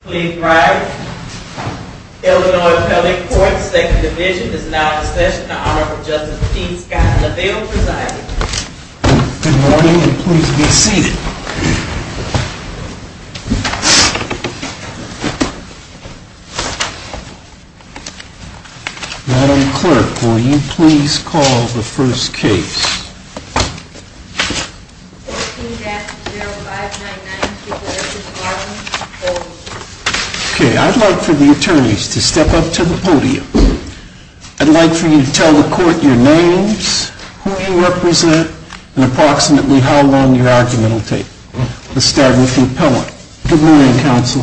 Please ride. Illinois Pelley Court, Second Division, is now in session. The Honorable Justice Pete Scott LaValle presiding. Good morning, and please be seated. Madam Clerk, will you please call the first case? I would like for the attorneys to step up to the podium. I would like for you to tell the court your names, who you represent, and approximately how long your argument will take. Let's start with the appellant. Good morning, Counsel.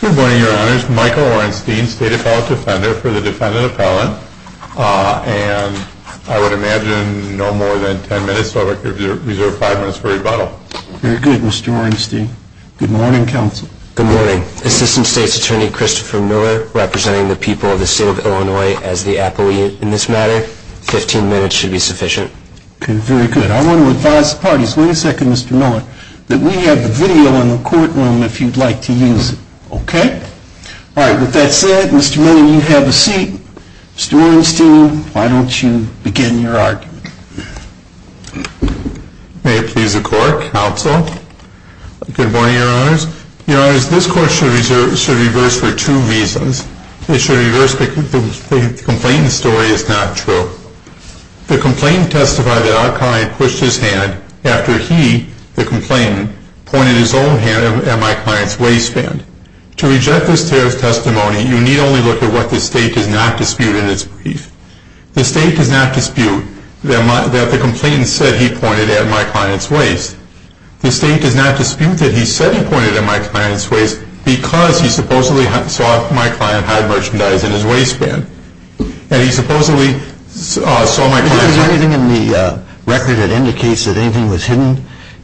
Good morning, Your Honors. Michael Orenstein, State Appellate Defender for the defendant appellant, and I would imagine no more than ten minutes, so I would reserve five minutes for rebuttal. Very good, Mr. Orenstein. Good morning, Counsel. Good morning. Assistant State's Attorney Christopher Miller, representing the people of the State of Illinois as the appellate in this matter. Fifteen minutes should be sufficient. Okay, very good. I want to advise the parties, wait a second, Mr. Miller, that we have the video in the courtroom if you'd like to use it. Okay? All right, with that said, Mr. Miller, you have a seat. Mr. Orenstein, why don't you begin your argument? May it please the Court, Counsel. Good morning, Your Honors. Your Honors, this court should reverse for two reasons. It should reverse because the complaint story is not true. The complainant testified that our client pushed his hand after he, the complainant, pointed his own hand at my client's waistband. To reject this testimony, you need only look at what the State does not dispute in its brief. The State does not dispute that the complainant said he pointed at my client's waist. The State does not dispute that he said he pointed at my client's waist because he supposedly saw that my client had merchandise in his waistband. And he supposedly saw my client's waistband. Is there anything in the record that indicates that anything was hidden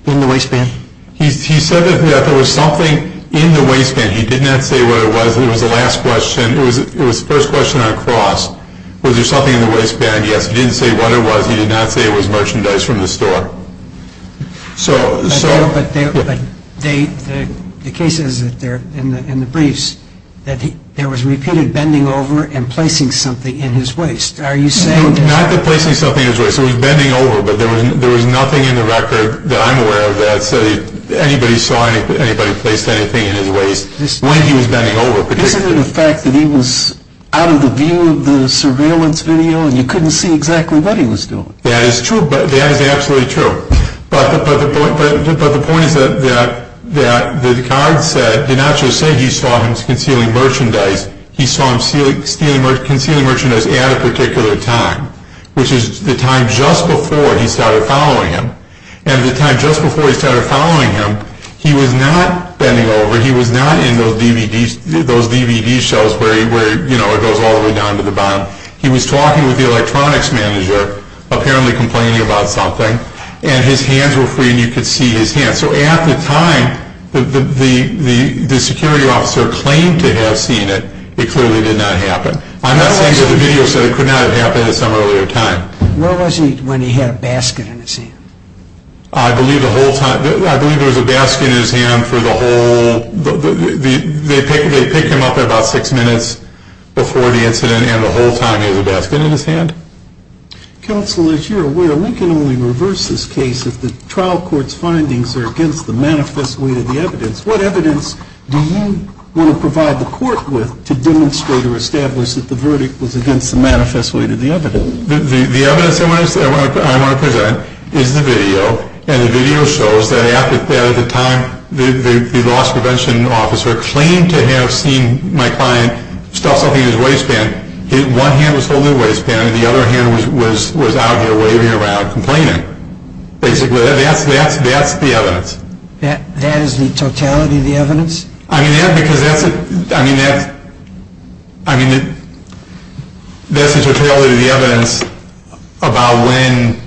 in the waistband? He said that there was something in the waistband. He did not say what it was. It was the last question. It was the first question on a cross. Was there something in the waistband? Yes. He didn't say what it was. He did not say it was merchandise from the store. But the case says in the briefs that there was repeated bending over and placing something in his waist. Not that placing something in his waist. He was bending over. But there was nothing in the record that I'm aware of that said anybody saw anybody place anything in his waist when he was bending over. Isn't it a fact that he was out of the view of the surveillance video and you couldn't see exactly what he was doing? That is true. That is absolutely true. But the point is that the card did not just say he saw him concealing merchandise. He saw him concealing merchandise at a particular time, which is the time just before he started following him. And the time just before he started following him, he was not bending over. He was not in those DVD shelves where it goes all the way down to the bottom. He was talking with the electronics manager, apparently complaining about something. And his hands were free and you could see his hands. So at the time the security officer claimed to have seen it, it clearly did not happen. I'm not saying that the video said it could not have happened at some earlier time. Where was he when he had a basket in his hand? I believe the whole time, I believe there was a basket in his hand for the whole, they picked him up about six minutes before the incident and the whole time he had a basket in his hand. Counsel, as you're aware, we can only reverse this case if the trial court's findings are against the manifest weight of the evidence. What evidence do you want to provide the court with to demonstrate or establish that the verdict was against the manifest weight of the evidence? The evidence I want to present is the video. And the video shows that at the time the loss prevention officer claimed to have seen my client stuff something in his waistband. One hand was holding the waistband and the other hand was out there waving around complaining. Basically, that's the evidence. That is the totality of the evidence? I mean, that's the totality of the evidence about when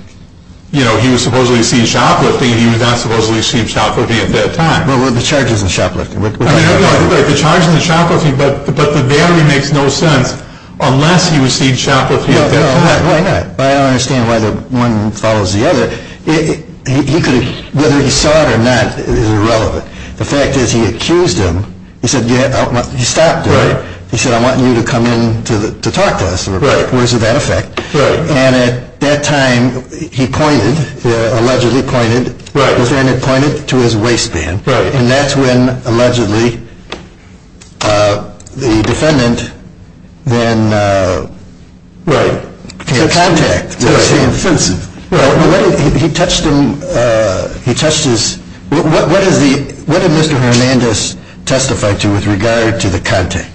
he was supposedly seen shoplifting and he was not supposedly seen shoplifting at that time. Well, the charge isn't shoplifting. The charge isn't shoplifting, but the value makes no sense unless he was seen shoplifting at that time. I don't understand why one follows the other. Whether he saw it or not is irrelevant. The fact is he accused him. He stopped him. He said, I want you to come in to talk to us. Where's the benefit? And at that time he pointed, allegedly pointed, the defendant pointed to his waistband. And that's when allegedly the defendant then came in contact with him. What did Mr. Hernandez testify to with regard to the contact?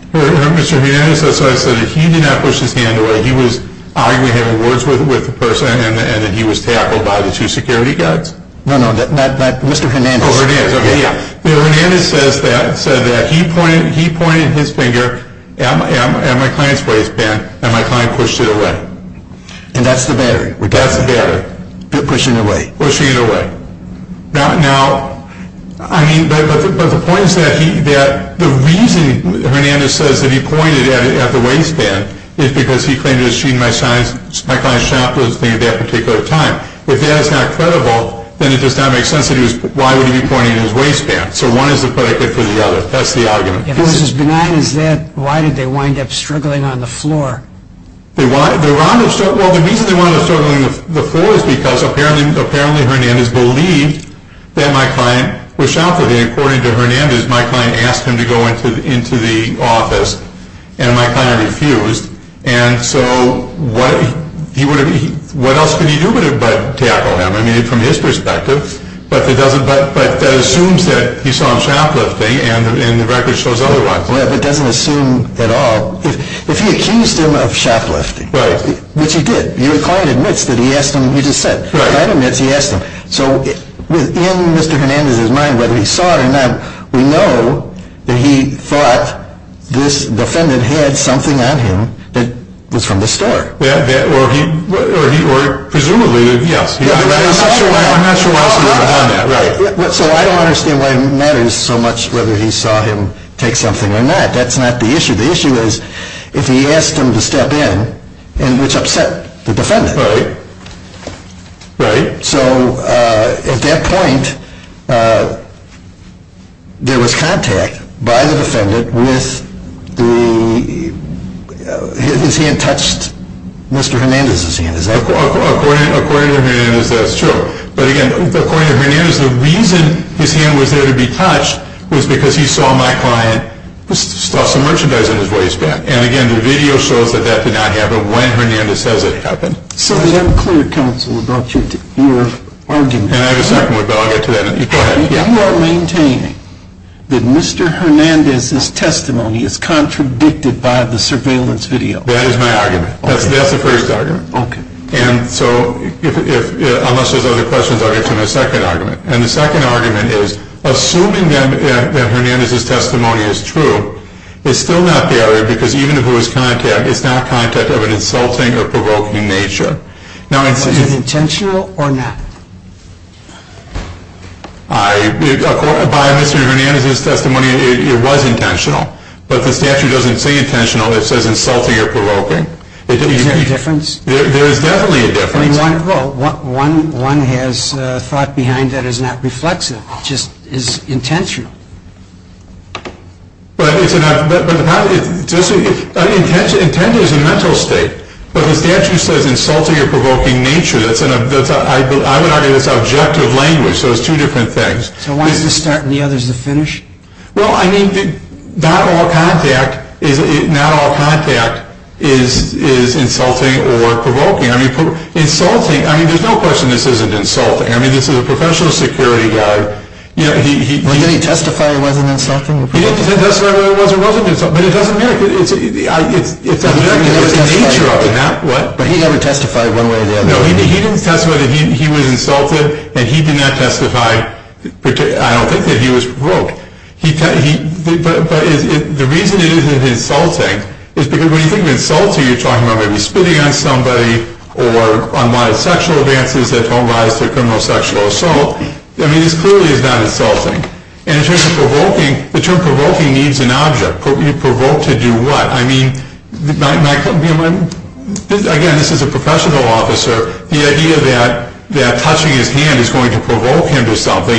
Mr. Hernandez, that's what I said. He did not push his hand away. He was arguably having words with the person and that he was tackled by the two security guards. No, no. Mr. Hernandez. Oh, Hernandez. Okay, yeah. Mr. Hernandez said that he pointed his finger at my client's waistband and my client pushed it away. And that's the battery? That's the battery. Pushing it away. Pushing it away. Now, I mean, but the point is that the reason Hernandez says that he pointed at the waistband is because he claimed to have seen my client shoplifting at that particular time. If that is not credible, then it does not make sense that he was, why would he be pointing at his waistband? So one is the predicate for the other. That's the argument. If it's as benign as that, why did they wind up struggling on the floor? Well, the reason they wound up struggling on the floor is because apparently Hernandez believed that my client was shoplifting. According to Hernandez, my client asked him to go into the office and my client refused. And so what else could he do but tackle him? I mean, from his perspective. But that assumes that he saw him shoplifting and the record shows otherwise. Yeah, but it doesn't assume at all. If he accused him of shoplifting, which he did, your client admits that he asked him, he just said. My client admits he asked him. So in Mr. Hernandez's mind, whether he saw it or not, we know that he thought this defendant had something on him that was from the store. Or presumably, yes. I'm not sure why he saw him on that. So I don't understand why it matters so much whether he saw him take something or not. That's not the issue. The issue is if he asked him to step in, which upset the defendant. Right, right. So at that point, there was contact by the defendant with the, his hand touched Mr. Hernandez's hand. According to Hernandez, that's true. But again, according to Hernandez, the reason his hand was there to be touched was because he saw my client stuff some merchandise in his waistband. And again, the video shows that that did not happen when Hernandez says it happened. So the unclear counsel brought you to your argument. And I have a second one, but I'll get to that. Go ahead. You are maintaining that Mr. Hernandez's testimony is contradicted by the surveillance video. That is my argument. That's the first argument. Okay. And so unless there's other questions, I'll get to my second argument. And the second argument is, assuming that Hernandez's testimony is true, it's still not the other. Because even if it was contact, it's not contact of an insulting or provoking nature. Was it intentional or not? By Mr. Hernandez's testimony, it was intentional. But the statute doesn't say intentional. It says insulting or provoking. Is there a difference? There is definitely a difference. Well, one has thought behind that is not reflexive. It just is intentional. But the intent is a mental state. But the statute says insulting or provoking nature. I would argue that's objective language. So it's two different things. So one is the start and the other is the finish? Well, I mean, not all contact is insulting or provoking. Insulting, I mean, there's no question this isn't insulting. I mean, this is a professional security guard. Did he testify it wasn't insulting? He didn't testify whether it was or wasn't insulting. But it doesn't matter. It's the nature of it, not what. But he never testified one way or the other. No, he didn't testify that he was insulted. And he did not testify, I don't think, that he was provoked. But the reason it isn't insulting is because when you think of insulting, you're talking about maybe spitting on somebody or unwanted sexual advances that don't rise to a criminal sexual assault. I mean, this clearly is not insulting. And in terms of provoking, the term provoking needs an object. You provoke to do what? I mean, again, this is a professional officer. The idea that touching his hand is going to provoke him to something,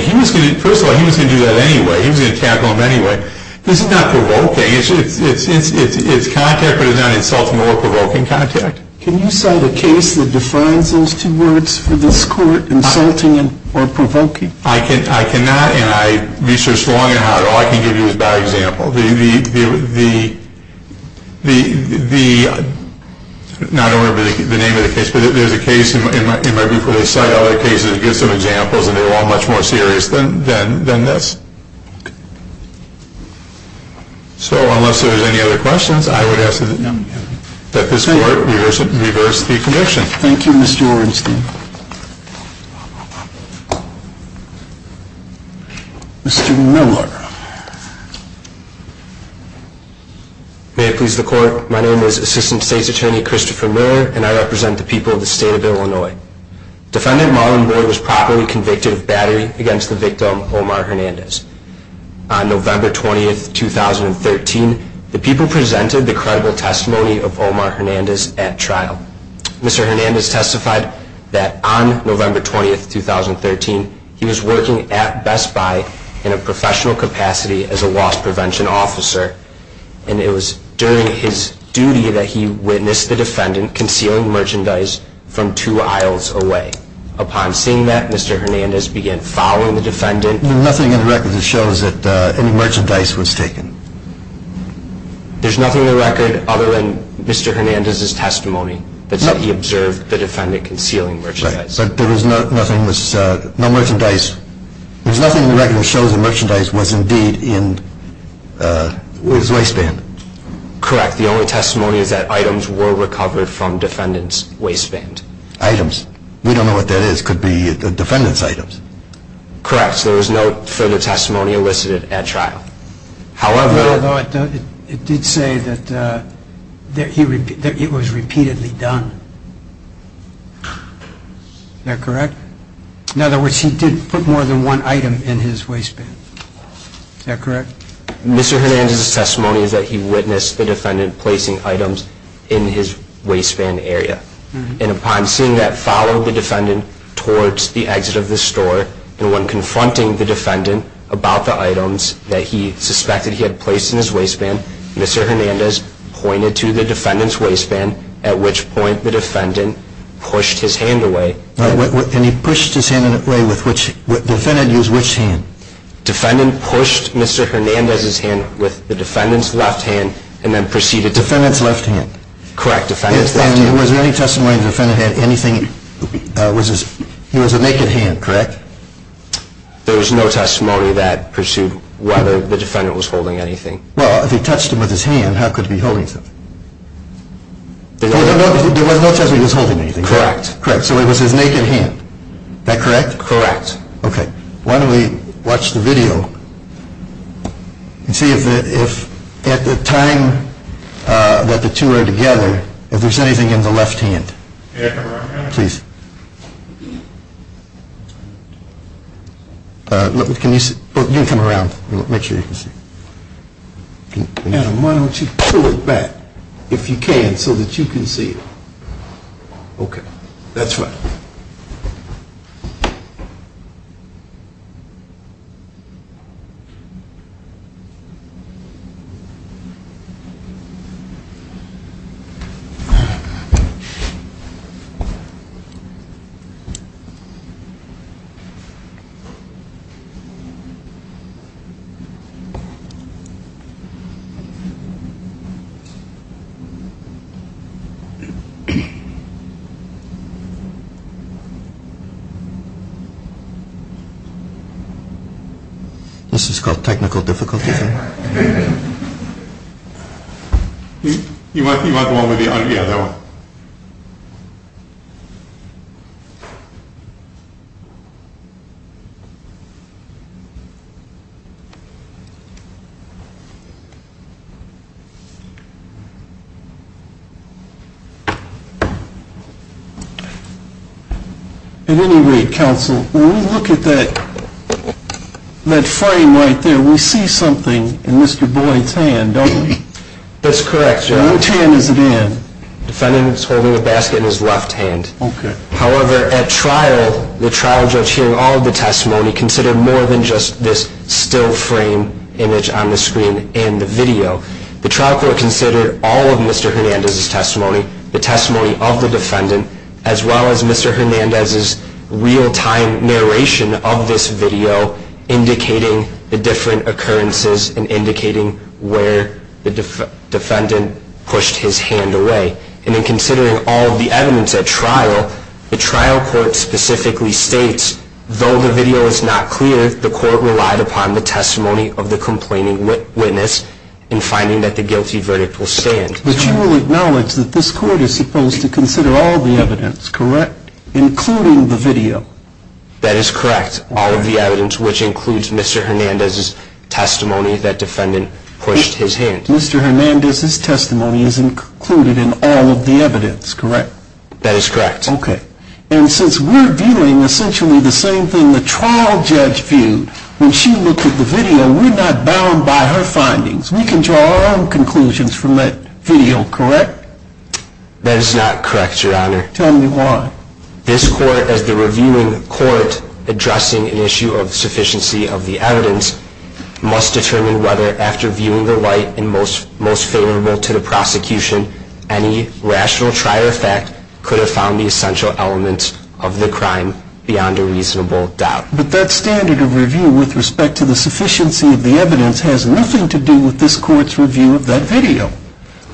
first of all, he was going to do that anyway. He was going to tackle him anyway. This is not provoking. It's contact, but it's not insulting or provoking contact. Can you cite a case that defines those two words for this court, insulting or provoking? I cannot, and I research long and hard. All I can give you is by example. The ñ I don't remember the name of the case, but there's a case in my book where they cite other cases and give some examples, and they're all much more serious than this. So unless there's any other questions, I would ask that this court reverse the conviction. Thank you, Mr. Orenstein. Mr. Miller. May it please the court, my name is Assistant State's Attorney Christopher Miller, and I represent the people of the state of Illinois. Defendant Marlon Boyd was properly convicted of battery against the victim Omar Hernandez. On November 20, 2013, the people presented the credible testimony of Omar Hernandez at trial. Mr. Hernandez testified that on November 20, 2013, he was working at Best Buy in a professional capacity as a loss prevention officer, and it was during his duty that he witnessed the defendant concealing merchandise from two aisles away. Upon seeing that, Mr. Hernandez began following the defendant. There's nothing in the record that shows that any merchandise was taken. There's nothing in the record other than Mr. Hernandez's testimony that said he observed the defendant concealing merchandise. Right, but there was nothing that was ñ no merchandise. There's nothing in the record that shows the merchandise was indeed in his waistband. Correct. The only testimony is that items were recovered from the defendant's waistband. Items? We don't know what that is. It could be the defendant's items. Correct. There was no further testimony elicited at trial. However, it did say that it was repeatedly done. Is that correct? In other words, he did put more than one item in his waistband. Is that correct? Mr. Hernandez's testimony is that he witnessed the defendant placing items in his waistband area, and upon seeing that, followed the defendant towards the exit of the store, and when confronting the defendant about the items that he suspected he had placed in his waistband, Mr. Hernandez pointed to the defendant's waistband, at which point the defendant pushed his hand away. And he pushed his hand away with which ñ the defendant used which hand? Defendant pushed Mr. Hernandez's hand with the defendant's left hand, and then proceeded to ñ Defendant's left hand. Defendant's left hand. And was there any testimony the defendant had anything ñ he was a naked hand, correct? There was no testimony that pursued whether the defendant was holding anything. Well, if he touched him with his hand, how could he be holding something? There was no testimony he was holding anything. Correct. Correct. So it was his naked hand. Is that correct? Correct. Yes. Okay. Why don't we watch the video and see if at the time that the two are together, if there's anything in the left hand. Can I come around here? Please. You can come around. Make sure you can see. Adam, why don't you pull it back, if you can, so that you can see it. Okay. That's fine. Okay. This is called technical difficulty. You want the one with the audio? Yeah, that one. At any rate, counsel, when we look at that frame right there, we see something. It's something in Mr. Boyd's hand, don't we? That's correct, Judge. What hand is it in? The defendant is holding a basket in his left hand. Okay. However, at trial, the trial judge hearing all of the testimony considered more than just this still frame image on the screen and the video. The trial court considered all of Mr. Hernandez's testimony, the testimony of the defendant, as well as Mr. Hernandez's real-time narration of this video, indicating the different occurrences and indicating where the defendant pushed his hand away. And in considering all of the evidence at trial, the trial court specifically states, though the video is not clear, the court relied upon the testimony of the complaining witness in finding that the guilty verdict will stand. But you will acknowledge that this court is supposed to consider all of the evidence, correct, including the video? That is correct. All of the evidence, which includes Mr. Hernandez's testimony that defendant pushed his hand. Mr. Hernandez's testimony is included in all of the evidence, correct? That is correct. Okay. And since we're viewing essentially the same thing the trial judge viewed when she looked at the video, we're not bound by her findings. We can draw our own conclusions from that video, correct? That is not correct, Your Honor. Tell me why. This court, as the reviewing court addressing an issue of sufficiency of the evidence, must determine whether, after viewing the light and most favorable to the prosecution, any rational trier fact could have found the essential elements of the crime beyond a reasonable doubt. But that standard of review with respect to the sufficiency of the evidence has nothing to do with this court's review of that video.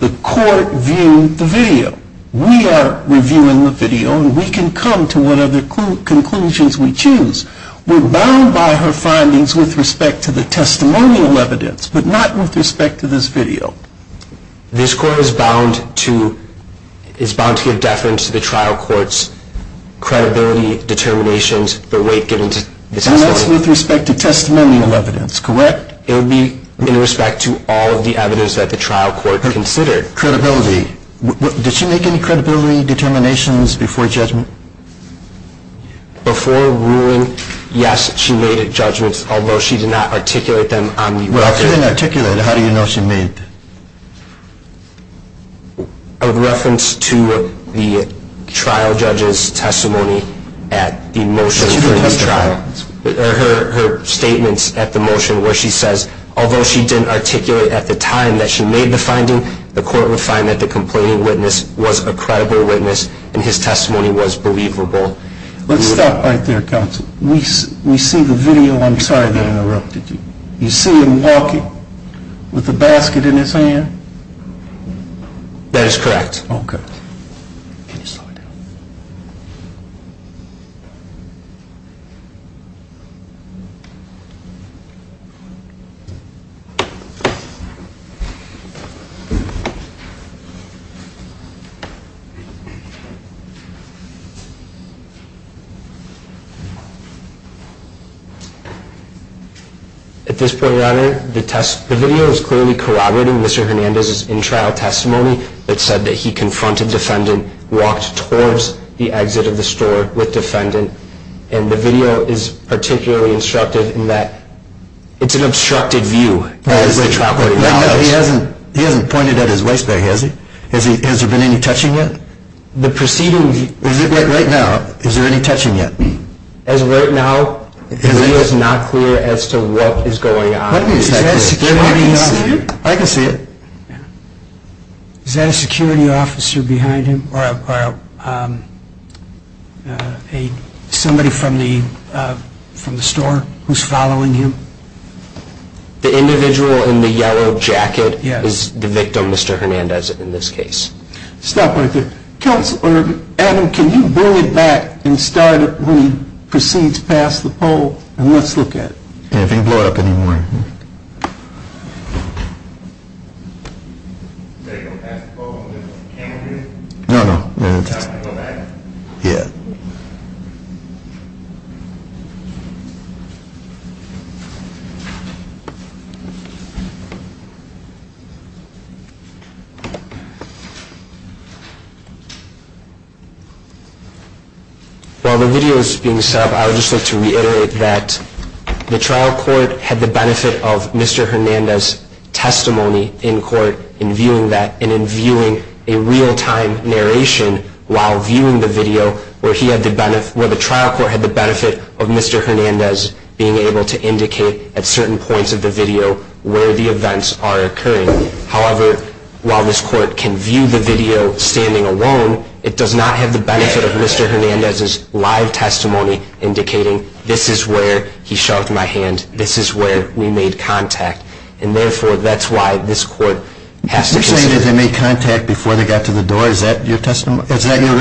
The court viewed the video. We are reviewing the video, and we can come to whatever conclusions we choose. We're bound by her findings with respect to the testimonial evidence, but not with respect to this video. This court is bound to give deference to the trial court's credibility, determinations, the weight given to the testimony. And that's with respect to testimonial evidence, correct? It would be in respect to all of the evidence that the trial court considered. Credibility. Did she make any credibility determinations before judgment? Before ruling, yes, she made judgments, although she did not articulate them on the record. If she didn't articulate, how do you know she made them? A reference to the trial judge's testimony at the motion for the trial. Her statements at the motion where she says, although she didn't articulate at the time that she made the finding, the court would find that the complaining witness was a credible witness, and his testimony was believable. Let's stop right there, counsel. We see the video. I'm sorry that I interrupted you. You see him walking with a basket in his hand? That is correct. Okay. At this point, rather, the video is clearly corroborating Mr. Hernandez's in-trial testimony that said that he confronted defendant, walked towards the exit of the store with defendant, and the video is particularly instructive in that it's an obstructed view. He hasn't pointed at his waste bag, has he? Has there been any touching yet? The preceding... Right now, is there any touching yet? As of right now, the video is not clear as to what is going on. Is that a security officer? I can see it. Is that a security officer behind him, or somebody from the store who's following him? The individual in the yellow jacket is the victim, Mr. Hernandez, in this case. Stop right there. Counselor, Adam, can you bring it back and start it when he proceeds past the pole, and let's look at it. And if he can blow it up any more. Is that going to pass the poll on this camera? No, no. Do I have to go back? Yeah. While the video is being set up, I would just like to reiterate that the trial court had the benefit of Mr. Hernandez's testimony in court, in viewing that, and in viewing a real-time narration while viewing the video, where the trial court had the benefit of Mr. Hernandez being able to indicate at certain points of the video where the events are occurring. However, while this court can view the video standing alone, it does not have the benefit of Mr. Hernandez's live testimony indicating, this is where he shoved my hand, this is where we made contact. And therefore, that's why this court has to consider. You're saying that they made contact before they got to the door? Is that your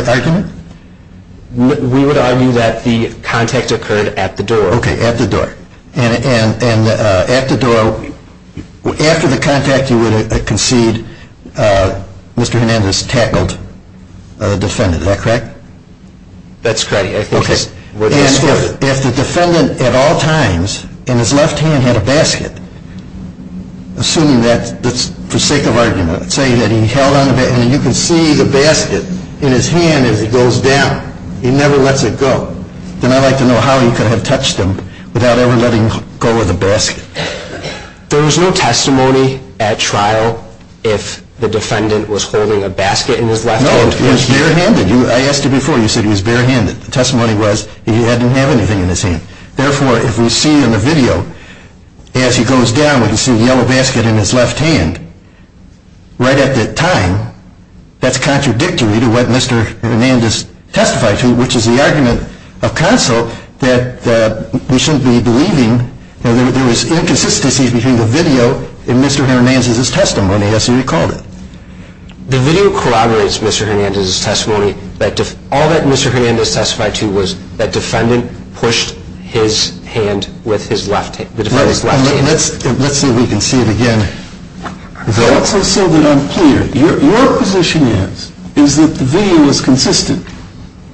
argument? We would argue that the contact occurred at the door. Okay, at the door. After the contact, you would concede Mr. Hernandez tackled the defendant. Is that correct? That's correct. Okay. If the defendant at all times in his left hand had a basket, assuming that's for sake of argument, let's say that he held on the basket, and you can see the basket in his hand as it goes down. He never lets it go. Then I'd like to know how you could have touched him without ever letting go of the basket. There was no testimony at trial if the defendant was holding a basket in his left hand. No, he was barehanded. I asked you before, you said he was barehanded. The testimony was he didn't have anything in his hand. Therefore, if we see in the video, as he goes down, we can see a yellow basket in his left hand. Right at that time, that's contradictory to what Mr. Hernandez testified to, which is the argument of counsel that we shouldn't be believing that there was inconsistencies between the video and Mr. Hernandez's testimony, as he recalled it. The video corroborates Mr. Hernandez's testimony. All that Mr. Hernandez testified to was that defendant pushed his hand with his left hand. Let's see if we can see it again. Just so that I'm clear, your position is that the video is consistent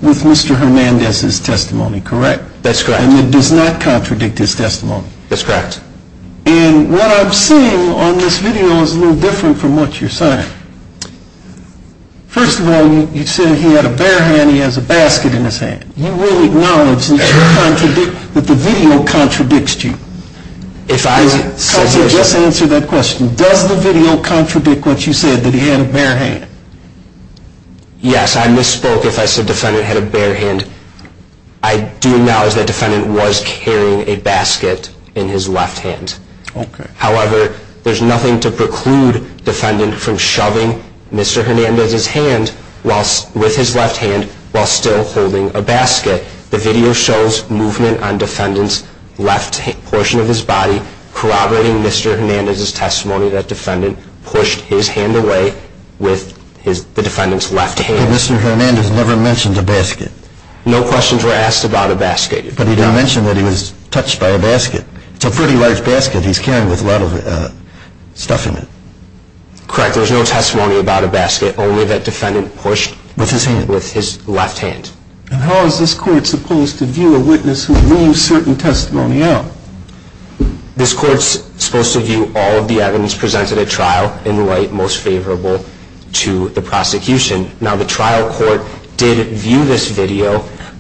with Mr. Hernandez's testimony, correct? That's correct. And it does not contradict his testimony? That's correct. And what I'm seeing on this video is a little different from what you're saying. First of all, you say he had a bare hand, he has a basket in his hand. You really acknowledge that the video contradicts you? Counsel, just answer that question. Does the video contradict what you said, that he had a bare hand? Yes, I misspoke if I said defendant had a bare hand. I do acknowledge that defendant was carrying a basket in his left hand. However, there's nothing to preclude defendant from shoving Mr. Hernandez's hand with his left hand while still holding a basket. The video shows movement on defendant's left portion of his body corroborating Mr. Hernandez's testimony that defendant pushed his hand away with the defendant's left hand. But Mr. Hernandez never mentioned a basket. No questions were asked about a basket. But he did mention that he was touched by a basket. It's a pretty large basket. He's carrying a lot of stuff in it. Correct. There's no testimony about a basket, only that defendant pushed with his left hand. And how is this court supposed to view a witness who leaves certain testimony out? This court's supposed to view all of the evidence presented at trial in light most favorable to the prosecution. Now, the trial court did view this video,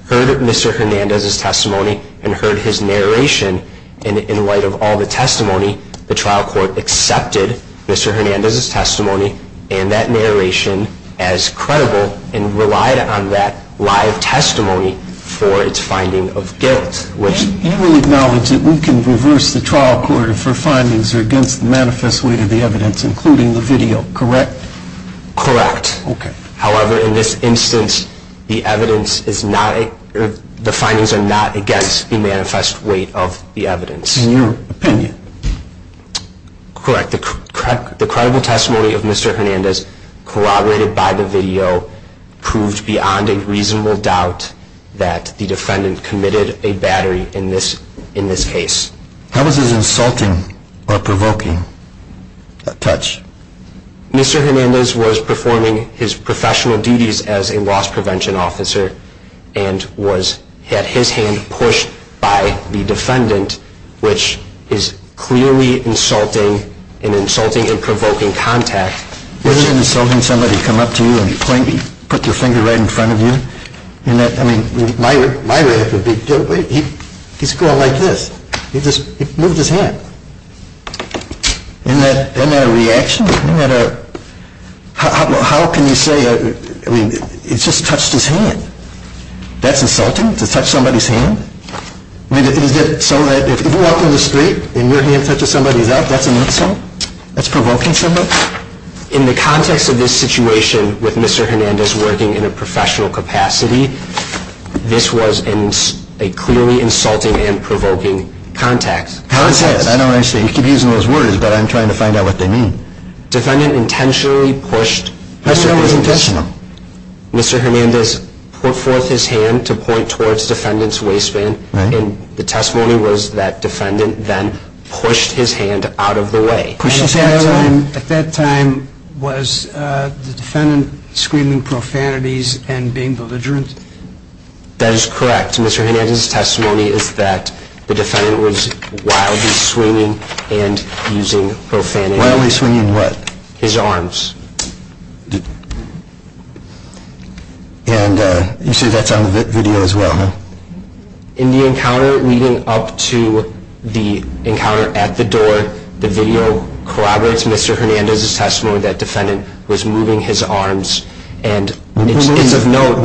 heard Mr. Hernandez's testimony, and heard his narration. And in light of all the testimony, the trial court accepted Mr. Hernandez's testimony and that narration as credible and relied on that live testimony for its finding of guilt. And we acknowledge that we can reverse the trial court if her findings are against the manifest weight of the evidence, including the video, correct? Correct. Okay. However, in this instance, the findings are not against the manifest weight of the evidence. In your opinion? Correct. The credible testimony of Mr. Hernandez corroborated by the video proved beyond a reasonable doubt that the defendant committed a battery in this case. How was his insulting or provoking touch? Mr. Hernandez was performing his professional duties as a loss prevention officer and had his hand pushed by the defendant, which is clearly insulting and insulting and provoking contact. Wasn't it insulting somebody come up to you and put their finger right in front of you? I mean, my reaction would be, wait, he's going like this. He just moved his hand. Isn't that a reaction? How can you say, I mean, he just touched his hand. That's insulting to touch somebody's hand? I mean, is it so that if you walk down the street and your hand touches somebody's, that's an insult? That's provoking somebody? In the context of this situation with Mr. Hernandez working in a professional capacity, this was a clearly insulting and provoking contact. I don't understand. You keep using those words, but I'm trying to find out what they mean. Defendant intentionally pushed Mr. Hernandez. Mr. Hernandez put forth his hand to point towards defendant's waistband, and the testimony was that defendant then pushed his hand out of the way. At that time was the defendant screaming profanities and being belligerent? That is correct. And the video that corroborates Mr. Hernandez's testimony is that the defendant was wildly swinging and using profanity. Wildly swinging what? His arms. And you say that's on the video as well, huh? In the encounter leading up to the encounter at the door, the video corroborates Mr. Hernandez's testimony that defendant was moving his arms. And it's of note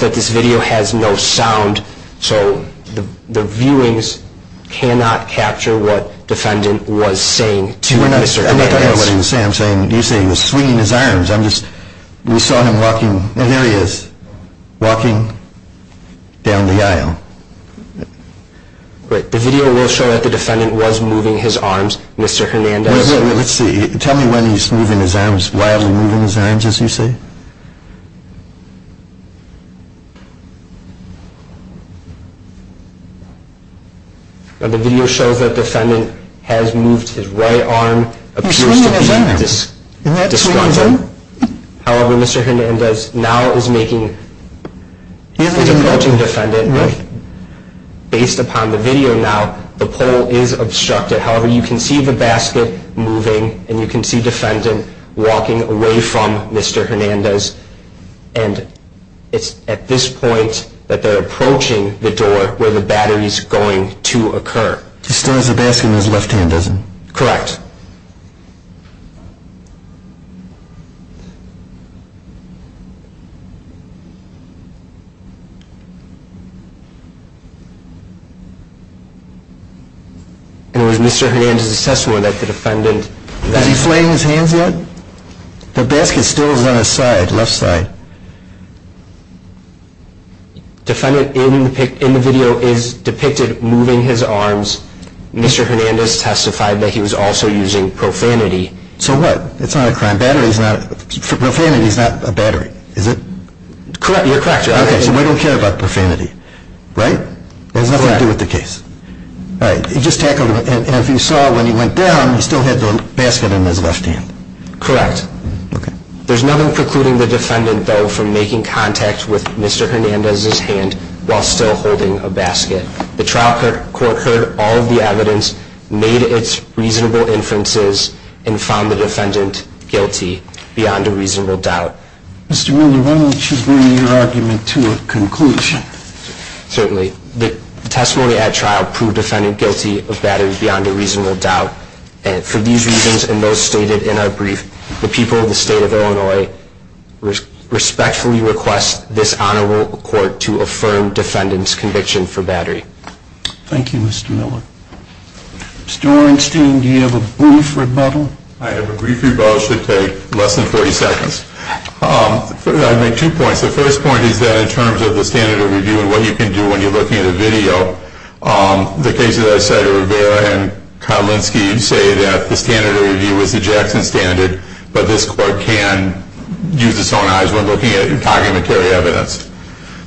that this video has no sound, so the viewings cannot capture what defendant was saying to Mr. Hernandez. I don't know what he was saying. You say he was swinging his arms. We saw him walking, and there he is, walking down the aisle. The video will show that the defendant was moving his arms, Mr. Hernandez. Let's see. Tell me when he's moving his arms, wildly moving his arms, as you say. The video shows that defendant has moved his right arm. He's swinging his arms. However, Mr. Hernandez now is making, he's approaching defendant. Based upon the video now, the pole is obstructed. However, you can see the basket moving, and you can see defendant walking away from Mr. Hernandez. And it's at this point that they're approaching the door where the battery is going to occur. He still has the basket in his left hand, doesn't he? Correct. And it was Mr. Hernandez's testimony that the defendant... Is he flailing his hands yet? The basket still is on his side, left side. Defendant in the video is depicted moving his arms. Mr. Hernandez testified that he was also using profanity. So what? It's not a crime. Profanity is not a battery, is it? You're correct. Okay, so we don't care about profanity. Right? It has nothing to do with the case. All right, he just tackled it, and if you saw when he went down, he still had the basket in his left hand. Correct. Okay. There's nothing precluding the defendant, though, from making contact with Mr. Hernandez's hand while still holding a basket. The trial court heard all of the evidence, made its reasonable inferences, and found the defendant guilty beyond a reasonable doubt. Mr. Miller, why don't you bring your argument to a conclusion? Certainly. The testimony at trial proved defendant guilty of battery beyond a reasonable doubt. For these reasons and those stated in our brief, the people of the state of Illinois respectfully request this honorable court to affirm defendant's conviction for battery. Thank you, Mr. Miller. Mr. Orenstein, do you have a brief rebuttal? I have a brief rebuttal. It should take less than 40 seconds. I'd make two points. The first point is that in terms of the standard of review and what you can do when you're looking at a video, the case that I cited, Rivera and Kotlinski, say that the standard of review is the Jackson standard, but this court can use its own eyes when looking at your documentary evidence.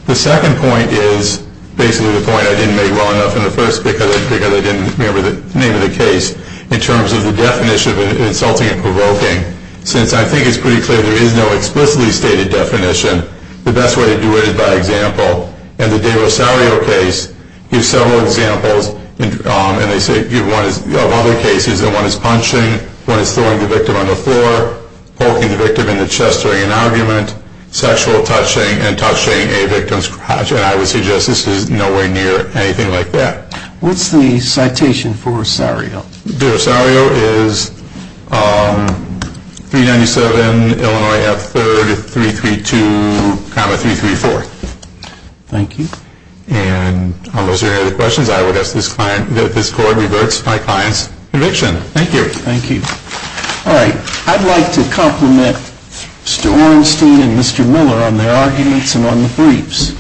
The second point is basically the point I didn't make well enough in the first because I didn't remember the name of the case. In terms of the definition of insulting and provoking, since I think it's pretty clear there is no explicitly stated definition, the best way to do it is by example, and the De Rosario case gives several examples of other cases that one is punching, one is throwing the victim on the floor, poking the victim in the chest during an argument, sexual touching, and touching a victim's crotch, and I would suggest this is nowhere near anything like that. What's the citation for Rosario? De Rosario is 397 Illinois F. 3332,334. Thank you. And unless there are any other questions, I would ask that this court reverts my client's conviction. Thank you. Thank you. All right, I'd like to compliment Mr. Orenstein and Mr. Miller on their arguments and on the briefs.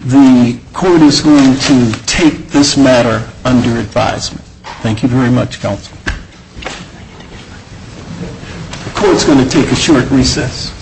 The court is going to take this matter under advisement. Thank you very much, counsel. The court is going to take a short recess.